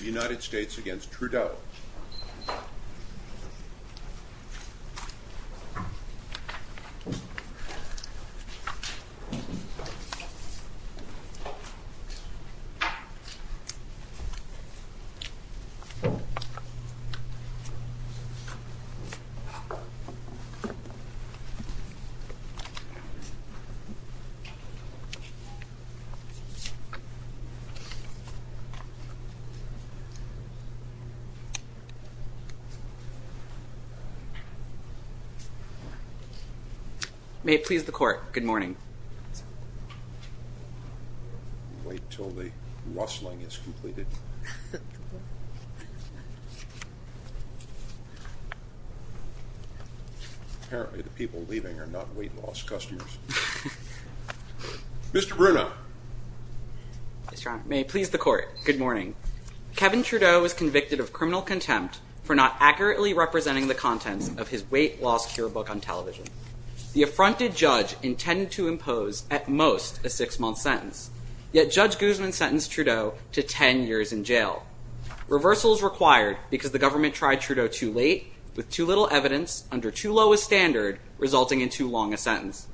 United States against Trudeau May it please the court, good morning. Wait until the rustling is completed. Apparently the people leaving are not weight loss customers. Mr. Bruno. May it please the court, good morning. Kevin Trudeau was convicted of criminal contempt for not accurately representing the contents of his weight loss cure book on television. The affronted judge intended to impose at most a six month sentence. Yet Judge Guzman sentenced Trudeau to 10 years in jail. Reversals required because the government tried Trudeau too late with too little evidence under too low a standard resulting in too long a sentence.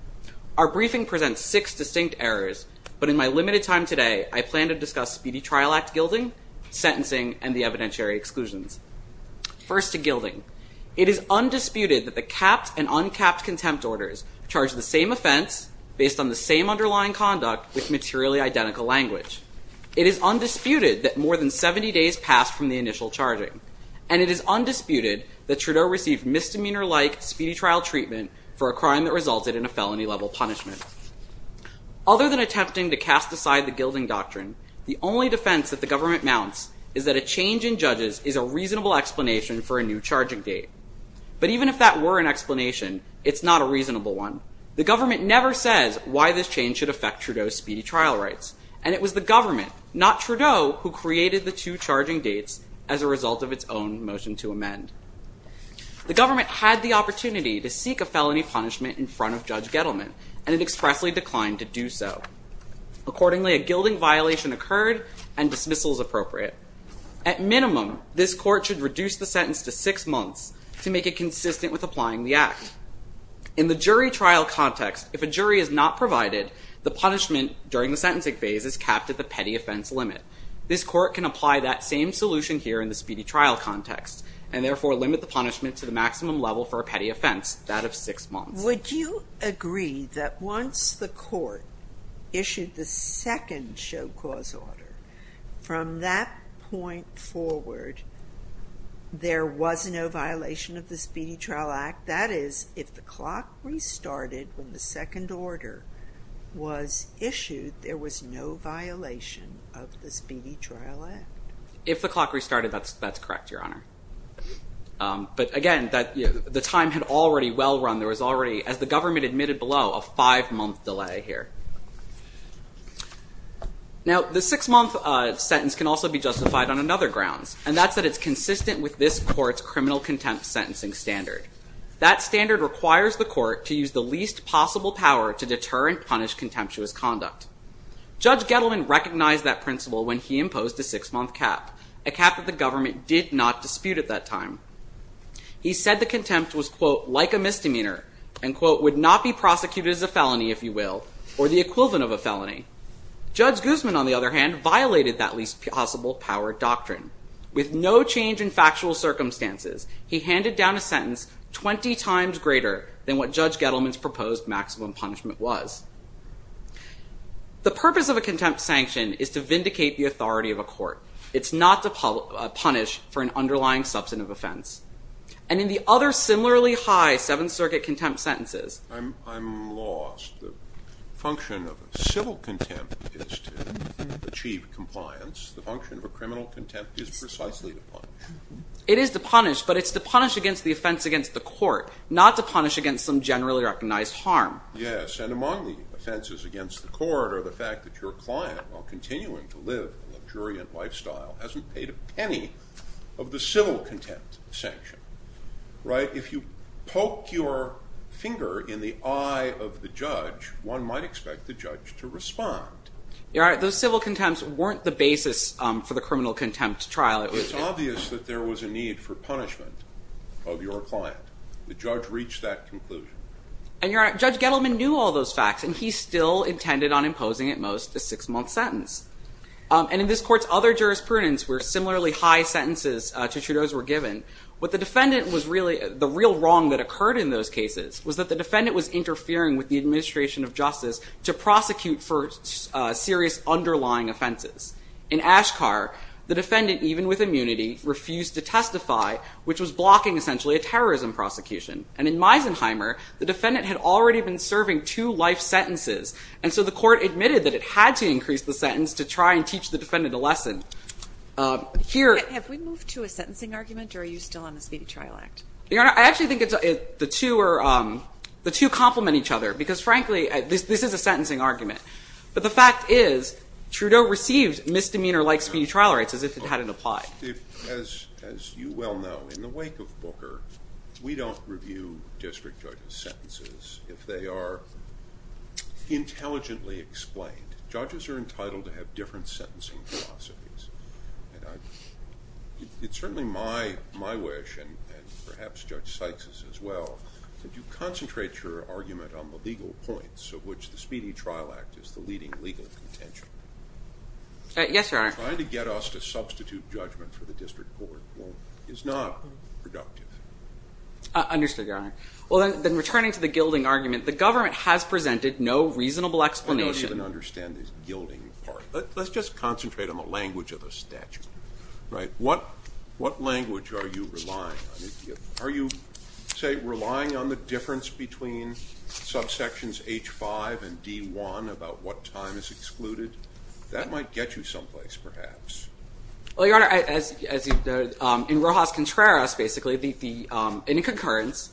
Our briefing presents six distinct errors but in my limited time today I plan to discuss Speedy Trial Act gilding, sentencing and the evidentiary exclusions. First to gilding. It is undisputed that the capped and uncapped contempt orders charge the same offense based on the same underlying conduct with materially identical language. It is undisputed that more than 70 days passed from the initial charging. And it is undisputed that Trudeau received misdemeanor like speedy trial treatment for a crime that resulted in a felony level punishment. Other than attempting to cast aside the gilding doctrine the only defense that the government mounts is that a change in judges is a reasonable explanation for a new charging date. But even if that were an explanation it's not a reasonable one. The government never says why this change should affect Trudeau's speedy trial rights. And it was the government not Trudeau who created the two charging dates as a result of its own motion to amend. The government had the opportunity to seek a felony punishment in front of Judge Gettleman and it expressly declined to do so. Accordingly a gilding violation occurred and dismissal is appropriate. At minimum this court should reduce the sentence to six months to make it consistent with applying the act. And in the jury trial context if a jury is not provided the punishment during the sentencing phase is capped at the petty offense limit. This court can apply that same solution here in the speedy trial context and therefore limit the punishment to the maximum level for a petty offense that of six months. Would you agree that once the court issued the second show cause order from that point forward there was no violation of the Speedy Trial Act? That is if the clock restarted when the second order was issued there was no violation of the Speedy Trial Act. If the clock restarted that's correct Your Honor. But again the time had already well run there was already as the government admitted below a five month delay here. Now the six month sentence can also be justified on another grounds. And that's that it's consistent with this court's criminal contempt sentencing standard. That standard requires the court to use the least possible power to deter and punish contemptuous conduct. Judge Gettleman recognized that principle when he imposed a six month cap. A cap that the government did not dispute at that time. He said the contempt was quote like a misdemeanor and quote would not be prosecuted as a felony if you will or the equivalent of a felony. Judge Guzman on the other hand violated that least possible power doctrine. With no change in factual circumstances he handed down a sentence 20 times greater than what Judge Gettleman's proposed maximum punishment was. The purpose of a contempt sanction is to vindicate the authority of a court. It's not to punish for an underlying substantive offense. And in the other similarly high Seventh Circuit contempt sentences. I'm lost. The function of civil contempt is to achieve compliance. The function of a criminal contempt is precisely to punish. It is to punish but it's to punish against the offense against the court not to punish against some generally recognized harm. Yes and among the offenses against the court are the fact that your client while continuing to live a luxuriant lifestyle hasn't paid a penny of the civil contempt sentence. Right. If you poke your finger in the eye of the judge one might expect the judge to respond. You're right. Those civil contempts weren't the basis for the criminal contempt trial. It was obvious that there was a need for punishment of your client. The judge reached that conclusion. And you're right. Judge Gettleman knew all those facts and he still intended on imposing at most a six month sentence. And in this court's other jurisprudence where similarly high sentences to Trudeau's were given. What the defendant was really the real wrong that occurred in those cases was that the defendant was interfering with the administration of justice to prosecute for serious underlying offenses. In Ashkar the defendant even with immunity refused to testify which was blocking essentially a terrorism prosecution. And in Meisenheimer the defendant had already been serving two life sentences. And so the court admitted that it had to increase the sentence to try and teach the defendant a lesson. Here. Have we moved to a sentencing argument or are you still on the Speedy Trial Act? Your Honor I actually think the two complement each other because frankly this is a sentencing argument. But the fact is Trudeau received misdemeanor like speedy trial rights as if it hadn't applied. As you well know in the wake of Booker we don't review district judges' sentences if they are intelligently explained. Judges are entitled to have different sentencing philosophies. It's certainly my wish and perhaps Judge Sykes' as well that you concentrate your argument on the legal points of which the Speedy Trial Act is the leading legal contention. Yes, Your Honor. Trying to get us to substitute judgment for the district court is not productive. Understood, Your Honor. Well then returning to the gilding argument the government has presented no reasonable explanation. I don't even understand this gilding part. Let's just concentrate on the language of the statute. Right. What language are you relying on? Are you say relying on the difference between subsections H5 and D1 about what time is excluded? That might get you someplace perhaps. Well, Your Honor, as in Rojas Contreras basically in concurrence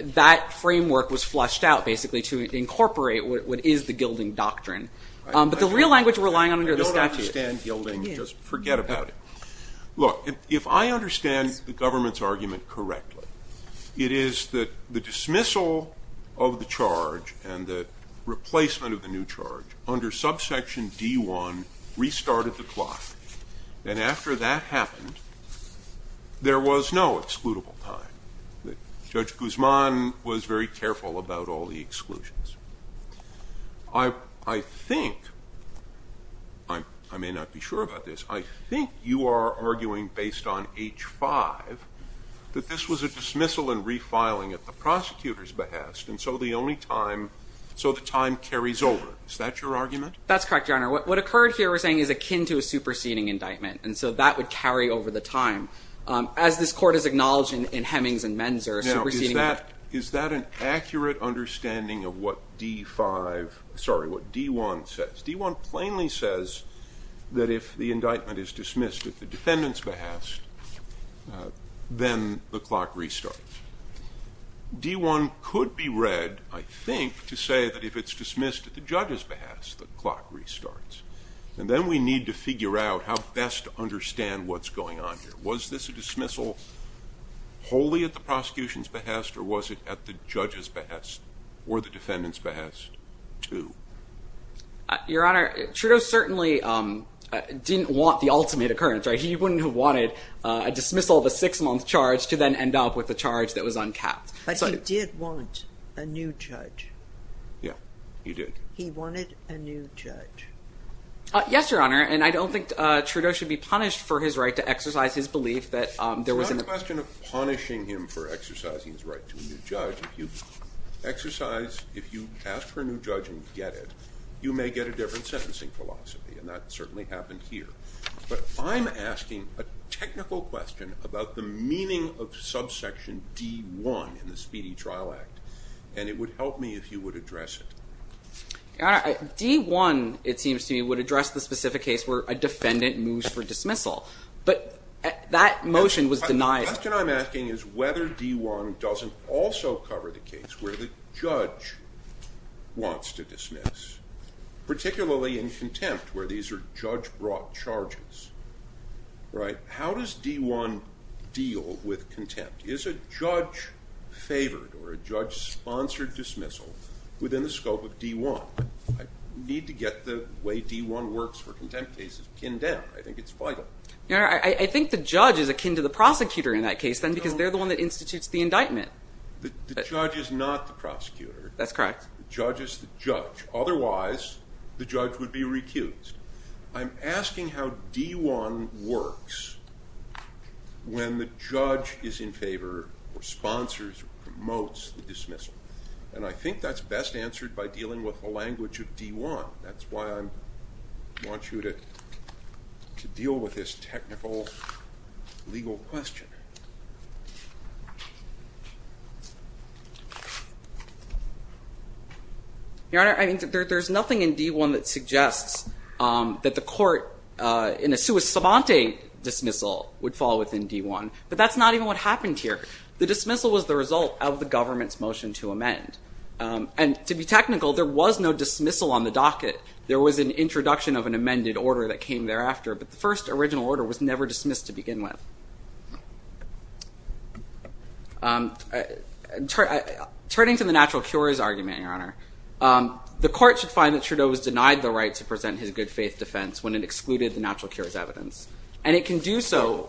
that framework was flushed out basically to incorporate what is the gilding doctrine. But the real language we're relying on under the statute. I don't understand gilding. Just forget about it. Look, if I understand the government's argument correctly, it is that the dismissal of the charge and the replacement of the new charge under subsection D1 restarted the clock. And after that happened, there was no excludable time. Judge Guzman was very careful about all the exclusions. I think, I may not be sure about this, I think you are arguing based on H5 that this was a dismissal and refiling at the prosecutor's behest and so the only time, so the time carries over. Is that your argument? That's correct, Your Honor. What occurred here we're saying is akin to a superseding indictment. And so that would carry over the time. As this court has acknowledged in Hemings and Menzer superseding. Now, is that an accurate understanding of what D5, sorry, what D1 says? D1 plainly says that if the indictment is dismissed at the defendant's behest, then the clock restarts. D1 could be read, I think, to say that if it's dismissed at the judge's behest, the clock restarts. And then we need to figure out how best to understand what's going on here. Was this a dismissal wholly at the prosecution's behest or was it at the judge's behest or the defendant's behest too? Your Honor, Trudeau certainly didn't want the ultimate occurrence. He wouldn't have wanted a dismissal of a six-month charge to then end up with a charge that was uncapped. But he did want a new judge. Yeah, he did. He wanted a new judge. Yes, Your Honor. And I don't think Trudeau should be punished for his right to exercise his belief that there was an- It's not a question of punishing him for exercising his right to a new judge. If you exercise, if you ask for a new judge and get it, you may get a different sentencing philosophy. And that certainly happened here. But I'm asking a technical question about the meaning of subsection D-1 in the Speedy Trial Act. And it would help me if you would address it. Your Honor, D-1, it seems to me, would address the specific case where a defendant moves for dismissal. But that motion was denied. The question I'm asking is whether D-1 doesn't also cover the case where the judge wants to dismiss, particularly in contempt where these are judge-brought charges. How does D-1 deal with contempt? Is a judge-favored or a judge-sponsored dismissal within the scope of D-1? I need to get the way D-1 works for contempt cases pinned down. I think it's vital. Your Honor, I think the judge is akin to the prosecutor in that case then because they're the one that institutes the indictment. The judge is not the prosecutor. That's correct. The judge is the judge. Otherwise, the judge would be recused. I'm asking how D-1 works when the judge is in favor or sponsors or promotes the dismissal. And I think that's best answered by dealing with the language of D-1. That's why I want you to deal with this technical legal question. Your Honor, there's nothing in D-1 that suggests that the court in a sua sabante dismissal would fall within D-1. But that's not even what happened here. The dismissal was the result of the government's motion to amend. And to be technical, there was no dismissal on the docket. There was an introduction of an amended order that came thereafter. But the first original order was never dismissed to begin with. Turning to the natural cures argument, Your Honor, the court should find that Trudeau was denied the right to present his good faith defense when it excluded the natural cures evidence. And it can do so.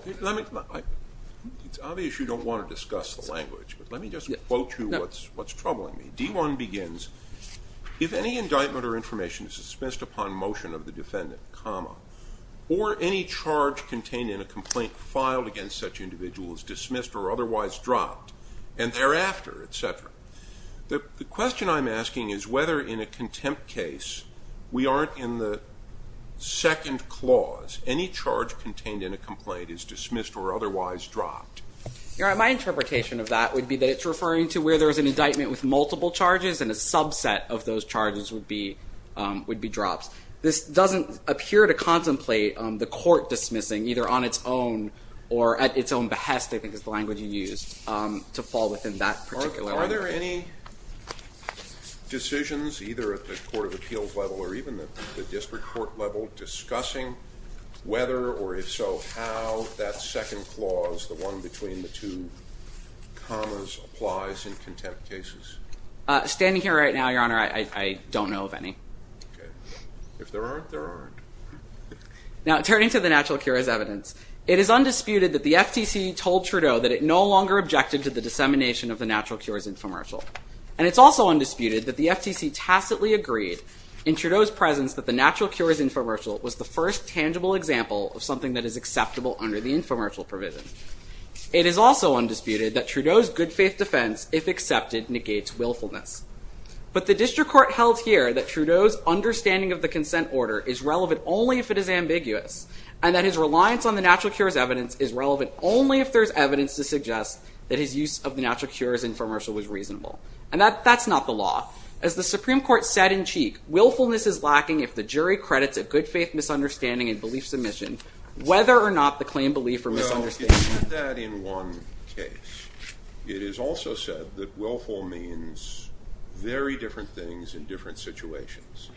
It's obvious you don't want to discuss the language, but let me just quote you what's troubling me. D-1 begins, if any indictment or information is dismissed upon motion of the defendant, comma, or any charge contained in a complaint filed against such individual is dismissed or otherwise dropped, and thereafter, et cetera, the question I'm asking is whether in a contempt case we aren't in the second clause. Any charge contained in a complaint is dismissed or otherwise dropped. Your Honor, my interpretation of that would be that it's referring to where there is an indictment with multiple charges and a subset of those charges would be drops. This doesn't appear to contemplate the court dismissing either on its own or at its own behest, I think is the language you used, to fall within that particular argument. Are there any decisions either at the court of appeals level or even at the district court level discussing whether or if so how that second clause, the one between the two commas, applies in contempt cases? Standing here right now, Your Honor, I don't know of any. Okay. If there aren't, there aren't. Now, turning to the natural cures evidence, it is undisputed that the FTC told Trudeau that it no longer objected to the dissemination of the natural cures infomercial. And it's also undisputed that the FTC tacitly agreed in Trudeau's presence that the natural cures infomercial was the first tangible example of something that is acceptable under the infomercial provision. It is also undisputed that Trudeau's good faith defense, if accepted, negates willfulness. But the district court held here that Trudeau's understanding of the consent order is relevant only if it is ambiguous and that his reliance on the natural cures evidence is relevant only if there is evidence to suggest that his use of the natural cures infomercial was reasonable. And that's not the law. As the Supreme Court said in Cheek, willfulness is lacking if the jury credits a good faith misunderstanding and belief submission whether or not the claim belief or misunderstanding. Well, it said that in one case. It is also said that willful means very different things in different situations.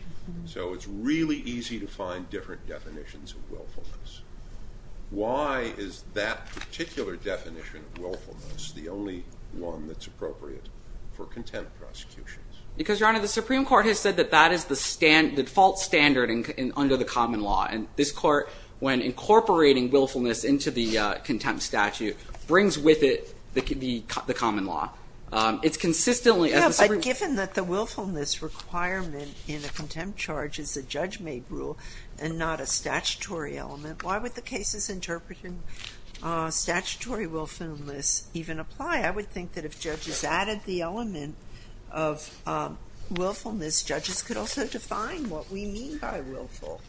So it's really easy to find different definitions of willfulness. Why is that particular definition of willfulness the only one that's appropriate for contempt prosecutions? Because, Your Honor, the Supreme Court has said that that is the default standard under the common law. And this court, when incorporating willfulness into the contempt statute, brings with it the common law. It's consistently as the Supreme Court Given that the willfulness requirement in a contempt charge is a judge-made rule and not a statutory element, why would the cases interpreting statutory willfulness even apply? I would think that if judges added the element of willfulness, judges could also define what we mean by willful.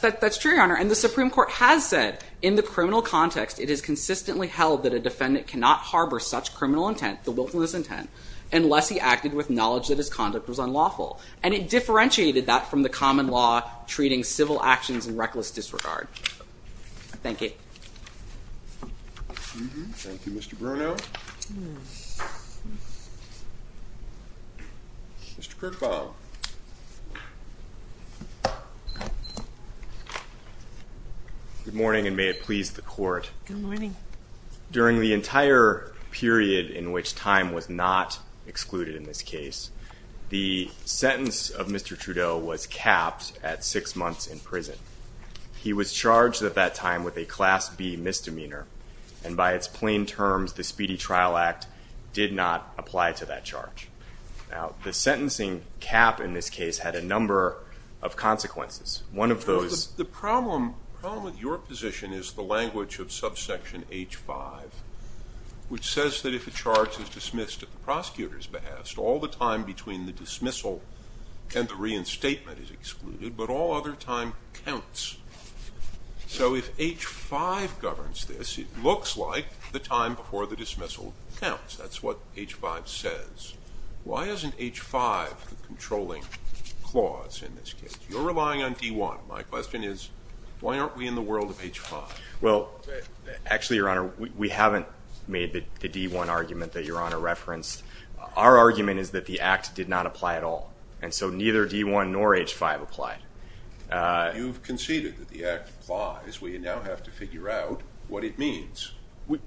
That's true, Your Honor. And the Supreme Court has said in the criminal context it is consistently held that a defendant cannot harbor such criminal intent, the willfulness intent, unless he acted with knowledge that his conduct was unlawful. And it differentiated that from the common law treating civil actions in reckless disregard. Thank you. Thank you, Mr. Bruno. Mr. Kirkbaugh. Good morning, and may it please the Court. Good morning. During the entire period in which time was not excluded in this case, the sentence of Mr. Trudeau was capped at six months in prison. He was charged at that time with a Class B misdemeanor, and by its plain terms, the Speedy Trial Act did not apply to that charge. Now, the sentencing cap in this case had a number of consequences. The problem with your position is the language of subsection H-5, which says that if a charge is dismissed at the prosecutor's behest, all the time between the dismissal and the reinstatement is excluded, but all other time counts. So if H-5 governs this, it looks like the time before the dismissal counts. That's what H-5 says. Why isn't H-5 the controlling clause in this case? You're relying on D-1. My question is, why aren't we in the world of H-5? Well, actually, Your Honor, we haven't made the D-1 argument that Your Honor referenced. Our argument is that the act did not apply at all, and so neither D-1 nor H-5 applied. You've conceded that the act applies. We now have to figure out what it means,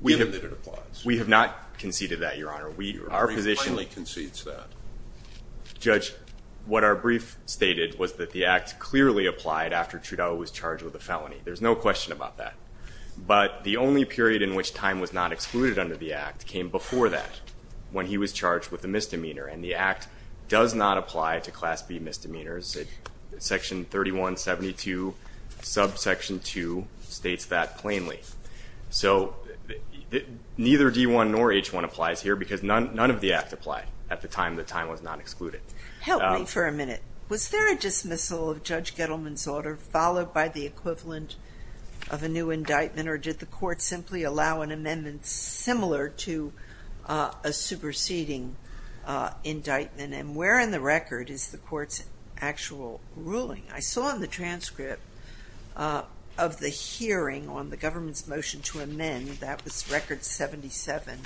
given that it applies. We have not conceded that, Your Honor. Your brief finally concedes that. Judge, what our brief stated was that the act clearly applied after Trudeau was charged with a felony. There's no question about that. But the only period in which time was not excluded under the act came before that, when he was charged with a misdemeanor, and the act does not apply to Class B misdemeanors. Section 3172, subsection 2, states that plainly. So neither D-1 nor H-1 applies here because none of the acts apply at the time the time was not excluded. Help me for a minute. Was there a dismissal of Judge Gettleman's order followed by the equivalent of a new indictment, or did the court simply allow an amendment similar to a superseding indictment? And where in the record is the court's actual ruling? I saw in the transcript of the hearing on the government's motion to amend, that was Record 77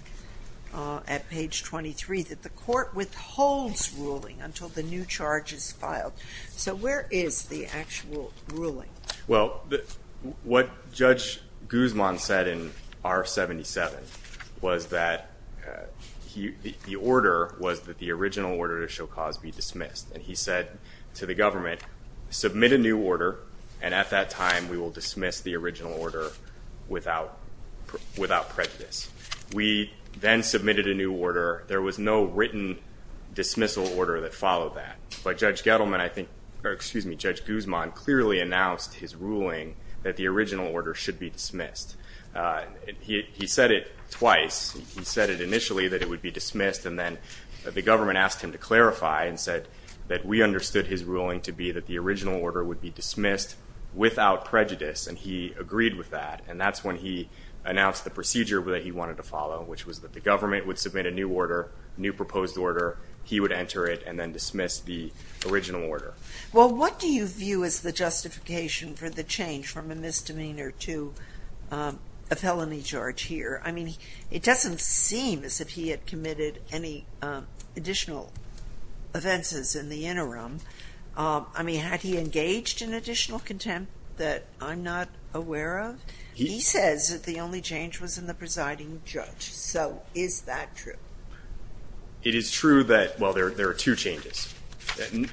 at page 23, that the court withholds ruling until the new charge is filed. So where is the actual ruling? Well, what Judge Guzman said in R-77 was that the order was that the original order to show cause be dismissed. And he said to the government, submit a new order, and at that time we will dismiss the original order without prejudice. We then submitted a new order. There was no written dismissal order that followed that. But Judge Guzman clearly announced his ruling that the original order should be dismissed. He said it twice. He said it initially that it would be dismissed, and then the government asked him to clarify and said that we understood his ruling to be that the original order would be dismissed without prejudice, and he agreed with that. And that's when he announced the procedure that he wanted to follow, which was that the government would submit a new order, new proposed order. He would enter it and then dismiss the original order. Well, what do you view as the justification for the change from a misdemeanor to a felony charge here? I mean, it doesn't seem as if he had committed any additional offenses in the interim. I mean, had he engaged in additional contempt that I'm not aware of? He says that the only change was in the presiding judge. So is that true? It is true that, well, there are two changes.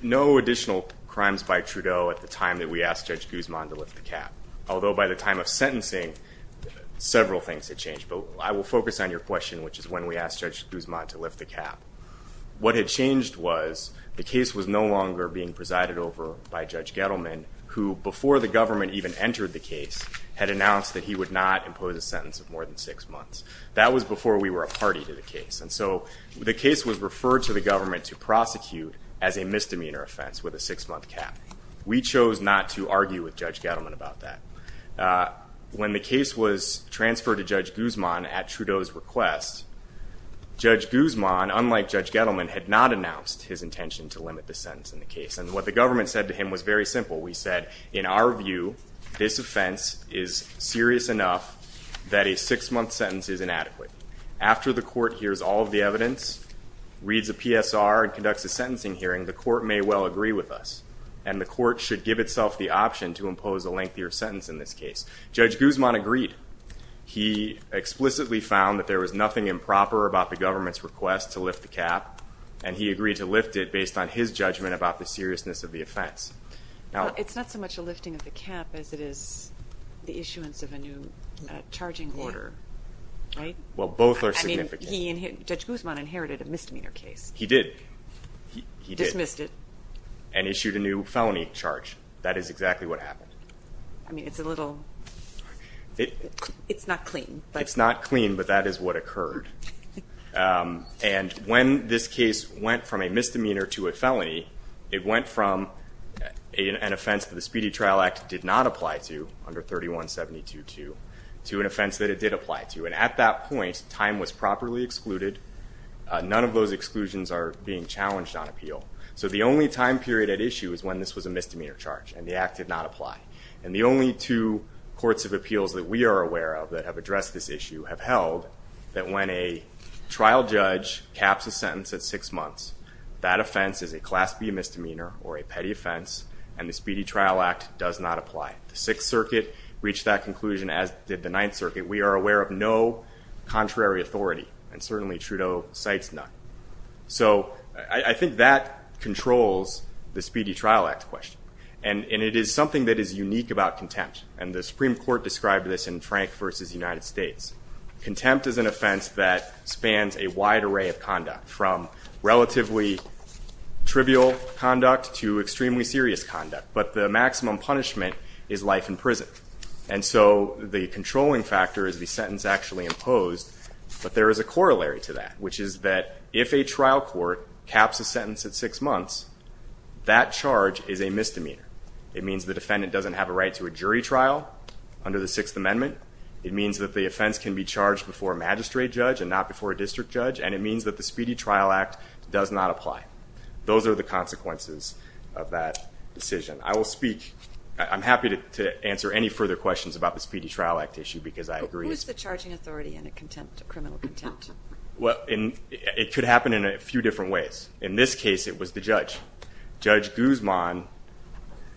No additional crimes by Trudeau at the time that we asked Judge Guzman to lift the cap, although by the time of sentencing several things had changed. But I will focus on your question, which is when we asked Judge Guzman to lift the cap. What had changed was the case was no longer being presided over by Judge Gettleman, who before the government even entered the case had announced that he would not impose a sentence of more than six months. That was before we were a party to the case. And so the case was referred to the government to prosecute as a misdemeanor offense with a six-month cap. We chose not to argue with Judge Gettleman about that. When the case was transferred to Judge Guzman at Trudeau's request, Judge Guzman, unlike Judge Gettleman, had not announced his intention to limit the sentence in the case. And what the government said to him was very simple. We said, in our view, this offense is serious enough that a six-month sentence is inadequate. After the court hears all of the evidence, reads a PSR, and conducts a sentencing hearing, the court may well agree with us, and the court should give itself the option to impose a lengthier sentence in this case. Judge Guzman agreed. He explicitly found that there was nothing improper about the government's request to lift the cap, and he agreed to lift it based on his judgment about the seriousness of the offense. It's not so much a lifting of the cap as it is the issuance of a new charging order, right? Well, both are significant. Judge Guzman inherited a misdemeanor case. He did. He did. Dismissed it. And issued a new felony charge. That is exactly what happened. I mean, it's a little ñ it's not clean. It's not clean, but that is what occurred. And when this case went from a misdemeanor to a felony, it went from an offense that the Speedy Trial Act did not apply to under 3172-2 to an offense that it did apply to. And at that point, time was properly excluded. None of those exclusions are being challenged on appeal. So the only time period at issue is when this was a misdemeanor charge and the act did not apply. And the only two courts of appeals that we are aware of that have addressed this issue have held that when a trial judge caps a sentence at six months, that offense is a Class B misdemeanor or a petty offense, and the Speedy Trial Act does not apply. The Sixth Circuit reached that conclusion, as did the Ninth Circuit. We are aware of no contrary authority, and certainly Trudeau cites none. So I think that controls the Speedy Trial Act question. And it is something that is unique about contempt, and the Supreme Court described this in Frank v. United States. Contempt is an offense that spans a wide array of conduct, from relatively trivial conduct to extremely serious conduct. But the maximum punishment is life in prison. And so the controlling factor is the sentence actually imposed. But there is a corollary to that, which is that if a trial court caps a sentence at six months, that charge is a misdemeanor. It means the defendant doesn't have a right to a jury trial under the Sixth Amendment. It means that the offense can be charged before a magistrate judge and not before a district judge. And it means that the Speedy Trial Act does not apply. Those are the consequences of that decision. I will speak. I'm happy to answer any further questions about the Speedy Trial Act issue because I agree. Who is the charging authority in a contempt, a criminal contempt? Well, it could happen in a few different ways. In this case, it was the judge. Judge Guzman,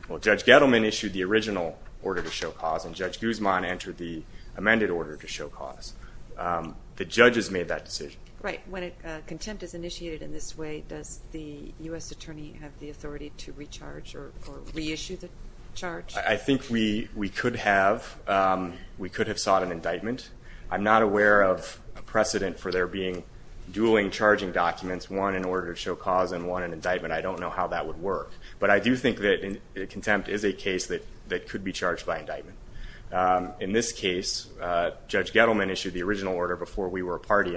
well, Judge Gettleman issued the original order to show cause, and Judge Guzman entered the amended order to show cause. The judges made that decision. Right. When contempt is initiated in this way, does the U.S. attorney have the authority to recharge or reissue the charge? I think we could have. We could have sought an indictment. I'm not aware of a precedent for there being dueling charging documents, one in order to show cause and one in indictment. I don't know how that would work. But I do think that contempt is a case that could be charged by indictment. In this case, Judge Gettleman issued the original order before we were a party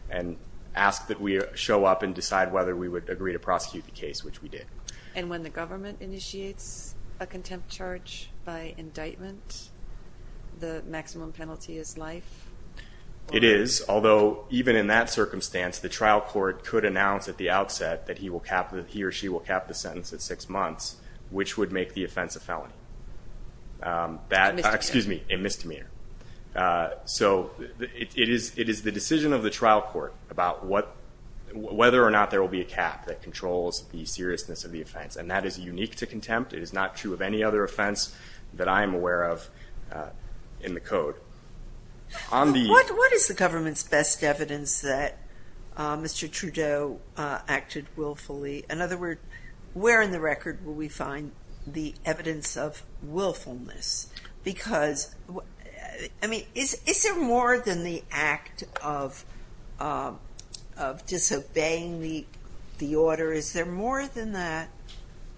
and asked that we show up and decide whether we would agree to prosecute the case, which we did. And when the government initiates a contempt charge by indictment, the maximum penalty is life? It is, although even in that circumstance, the trial court could announce at the outset that he or she will cap the sentence at six months, which would make the offense a felony. A misdemeanor. Excuse me, a misdemeanor. So it is the decision of the trial court about whether or not there will be a cap that controls the seriousness of the offense. And that is unique to contempt. It is not true of any other offense that I am aware of in the Code. What is the government's best evidence that Mr. Trudeau acted willfully? In other words, where in the record will we find the evidence of willfulness? Because, I mean, is there more than the act of disobeying the order? Is there more than that?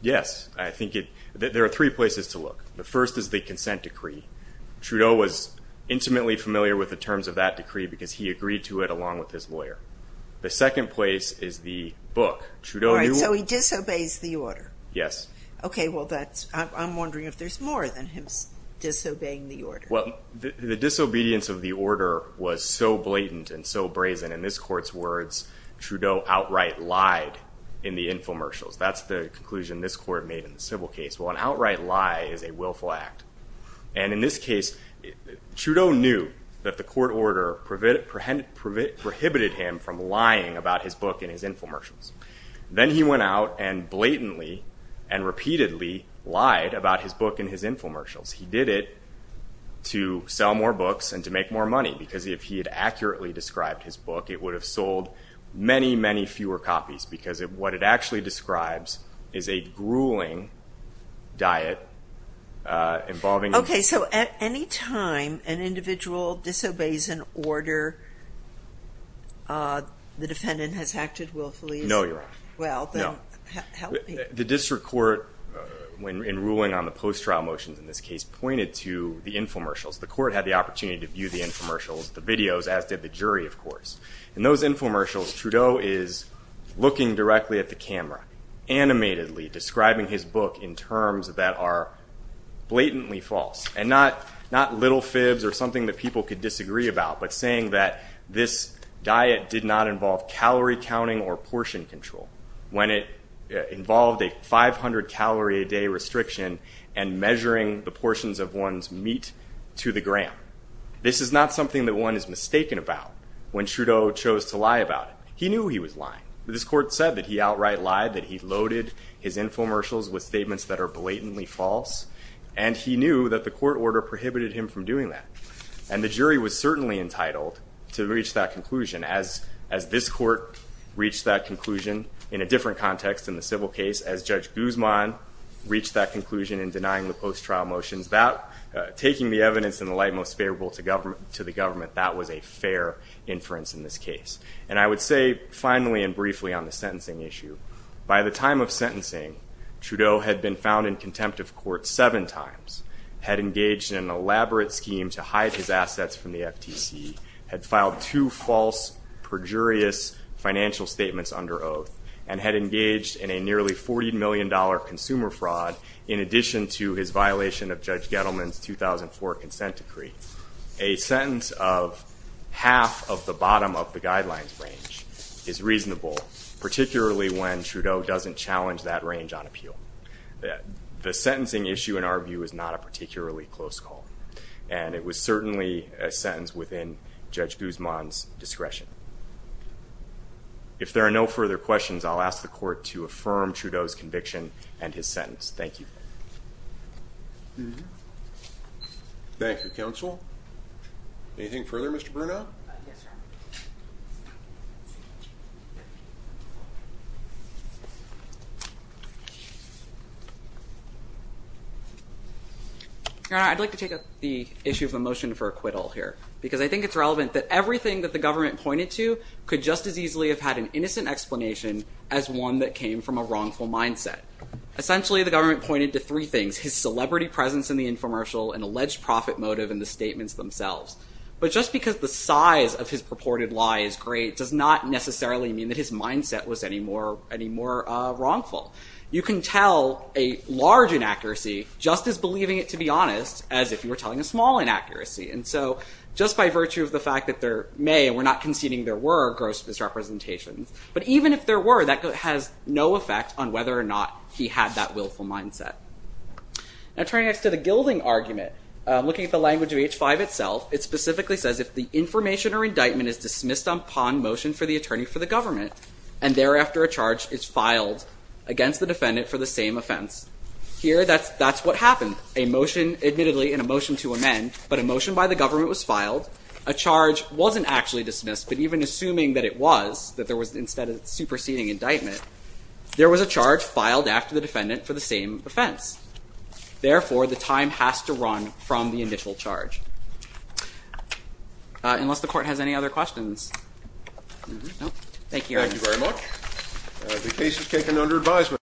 Yes. I think there are three places to look. The first is the consent decree. Trudeau was intimately familiar with the terms of that decree because he agreed to it along with his lawyer. The second place is the book. All right, so he disobeys the order. Yes. Okay, well, I'm wondering if there's more than him disobeying the order. Well, the disobedience of the order was so blatant and so brazen, in this Court's words, Trudeau outright lied in the infomercials. That's the conclusion this Court made in the civil case. Well, an outright lie is a willful act. And in this case, Trudeau knew that the court order prohibited him from lying about his book in his infomercials. Then he went out and blatantly and repeatedly lied about his book in his infomercials. He did it to sell more books and to make more money because if he had accurately described his book, it would have sold many, many fewer copies because what it actually describes is a grueling diet involving... The defendant has acted willfully. No, you're wrong. Well, then... The district court, in ruling on the post-trial motions in this case, pointed to the infomercials. The court had the opportunity to view the infomercials, the videos, as did the jury, of course. In those infomercials, Trudeau is looking directly at the camera, animatedly describing his book in terms that are blatantly false, and not little fibs or something that people could disagree about, but saying that this diet did not involve calorie counting or portion control when it involved a 500-calorie-a-day restriction and measuring the portions of one's meat to the gram. This is not something that one is mistaken about when Trudeau chose to lie about it. He knew he was lying. This court said that he outright lied, that he loaded his infomercials with statements that are blatantly false, and he knew that the court order prohibited him from doing that. The jury was certainly entitled to reach that conclusion. As this court reached that conclusion in a different context in the civil case, as Judge Guzman reached that conclusion in denying the post-trial motions, taking the evidence in the light most favorable to the government, that was a fair inference in this case. I would say, finally and briefly on the sentencing issue, by the time of sentencing, Trudeau had been found in contempt of court seven times, had engaged in an elaborate scheme to hide his assets from the FTC, had filed two false, perjurious financial statements under oath, and had engaged in a nearly $40 million consumer fraud in addition to his violation of Judge Gettleman's 2004 consent decree. A sentence of half of the bottom of the guidelines range is reasonable, particularly when Trudeau doesn't challenge that range on appeal. The sentencing issue, in our view, is not a particularly close call, and it was certainly a sentence within Judge Guzman's discretion. If there are no further questions, I'll ask the court to affirm Trudeau's conviction and his sentence. Thank you. Thank you, counsel. Anything further, Mr. Bruno? Yes, sir. Your Honor, I'd like to take up the issue of the motion for acquittal here, because I think it's relevant that everything that the government pointed to could just as easily have had an innocent explanation as one that came from a wrongful mindset. Essentially, the government pointed to three things, his celebrity presence in the infomercial and alleged profit motive in the statements themselves. But just because the size of his purported lie is great does not necessarily mean that his mindset was any more wrongful. You can tell a large inaccuracy just as believing it to be honest as if you were telling a small inaccuracy. And so just by virtue of the fact that there may, and we're not conceding there were, gross misrepresentations, but even if there were, that has no effect on whether or not he had that willful mindset. Now turning next to the gilding argument, looking at the language of H-5 itself, it specifically says if the information or indictment is dismissed upon motion for the attorney for the government and thereafter a charge is filed against the defendant for the same offense, here that's what happened. Admittedly, in a motion to amend, but a motion by the government was filed. A charge wasn't actually dismissed, but even assuming that it was, that there was instead a superseding indictment, there was a charge filed after the defendant for the same offense. Therefore, the time has to run from the initial charge. Unless the court has any other questions. Thank you. Thank you very much. The case is taken under advisement.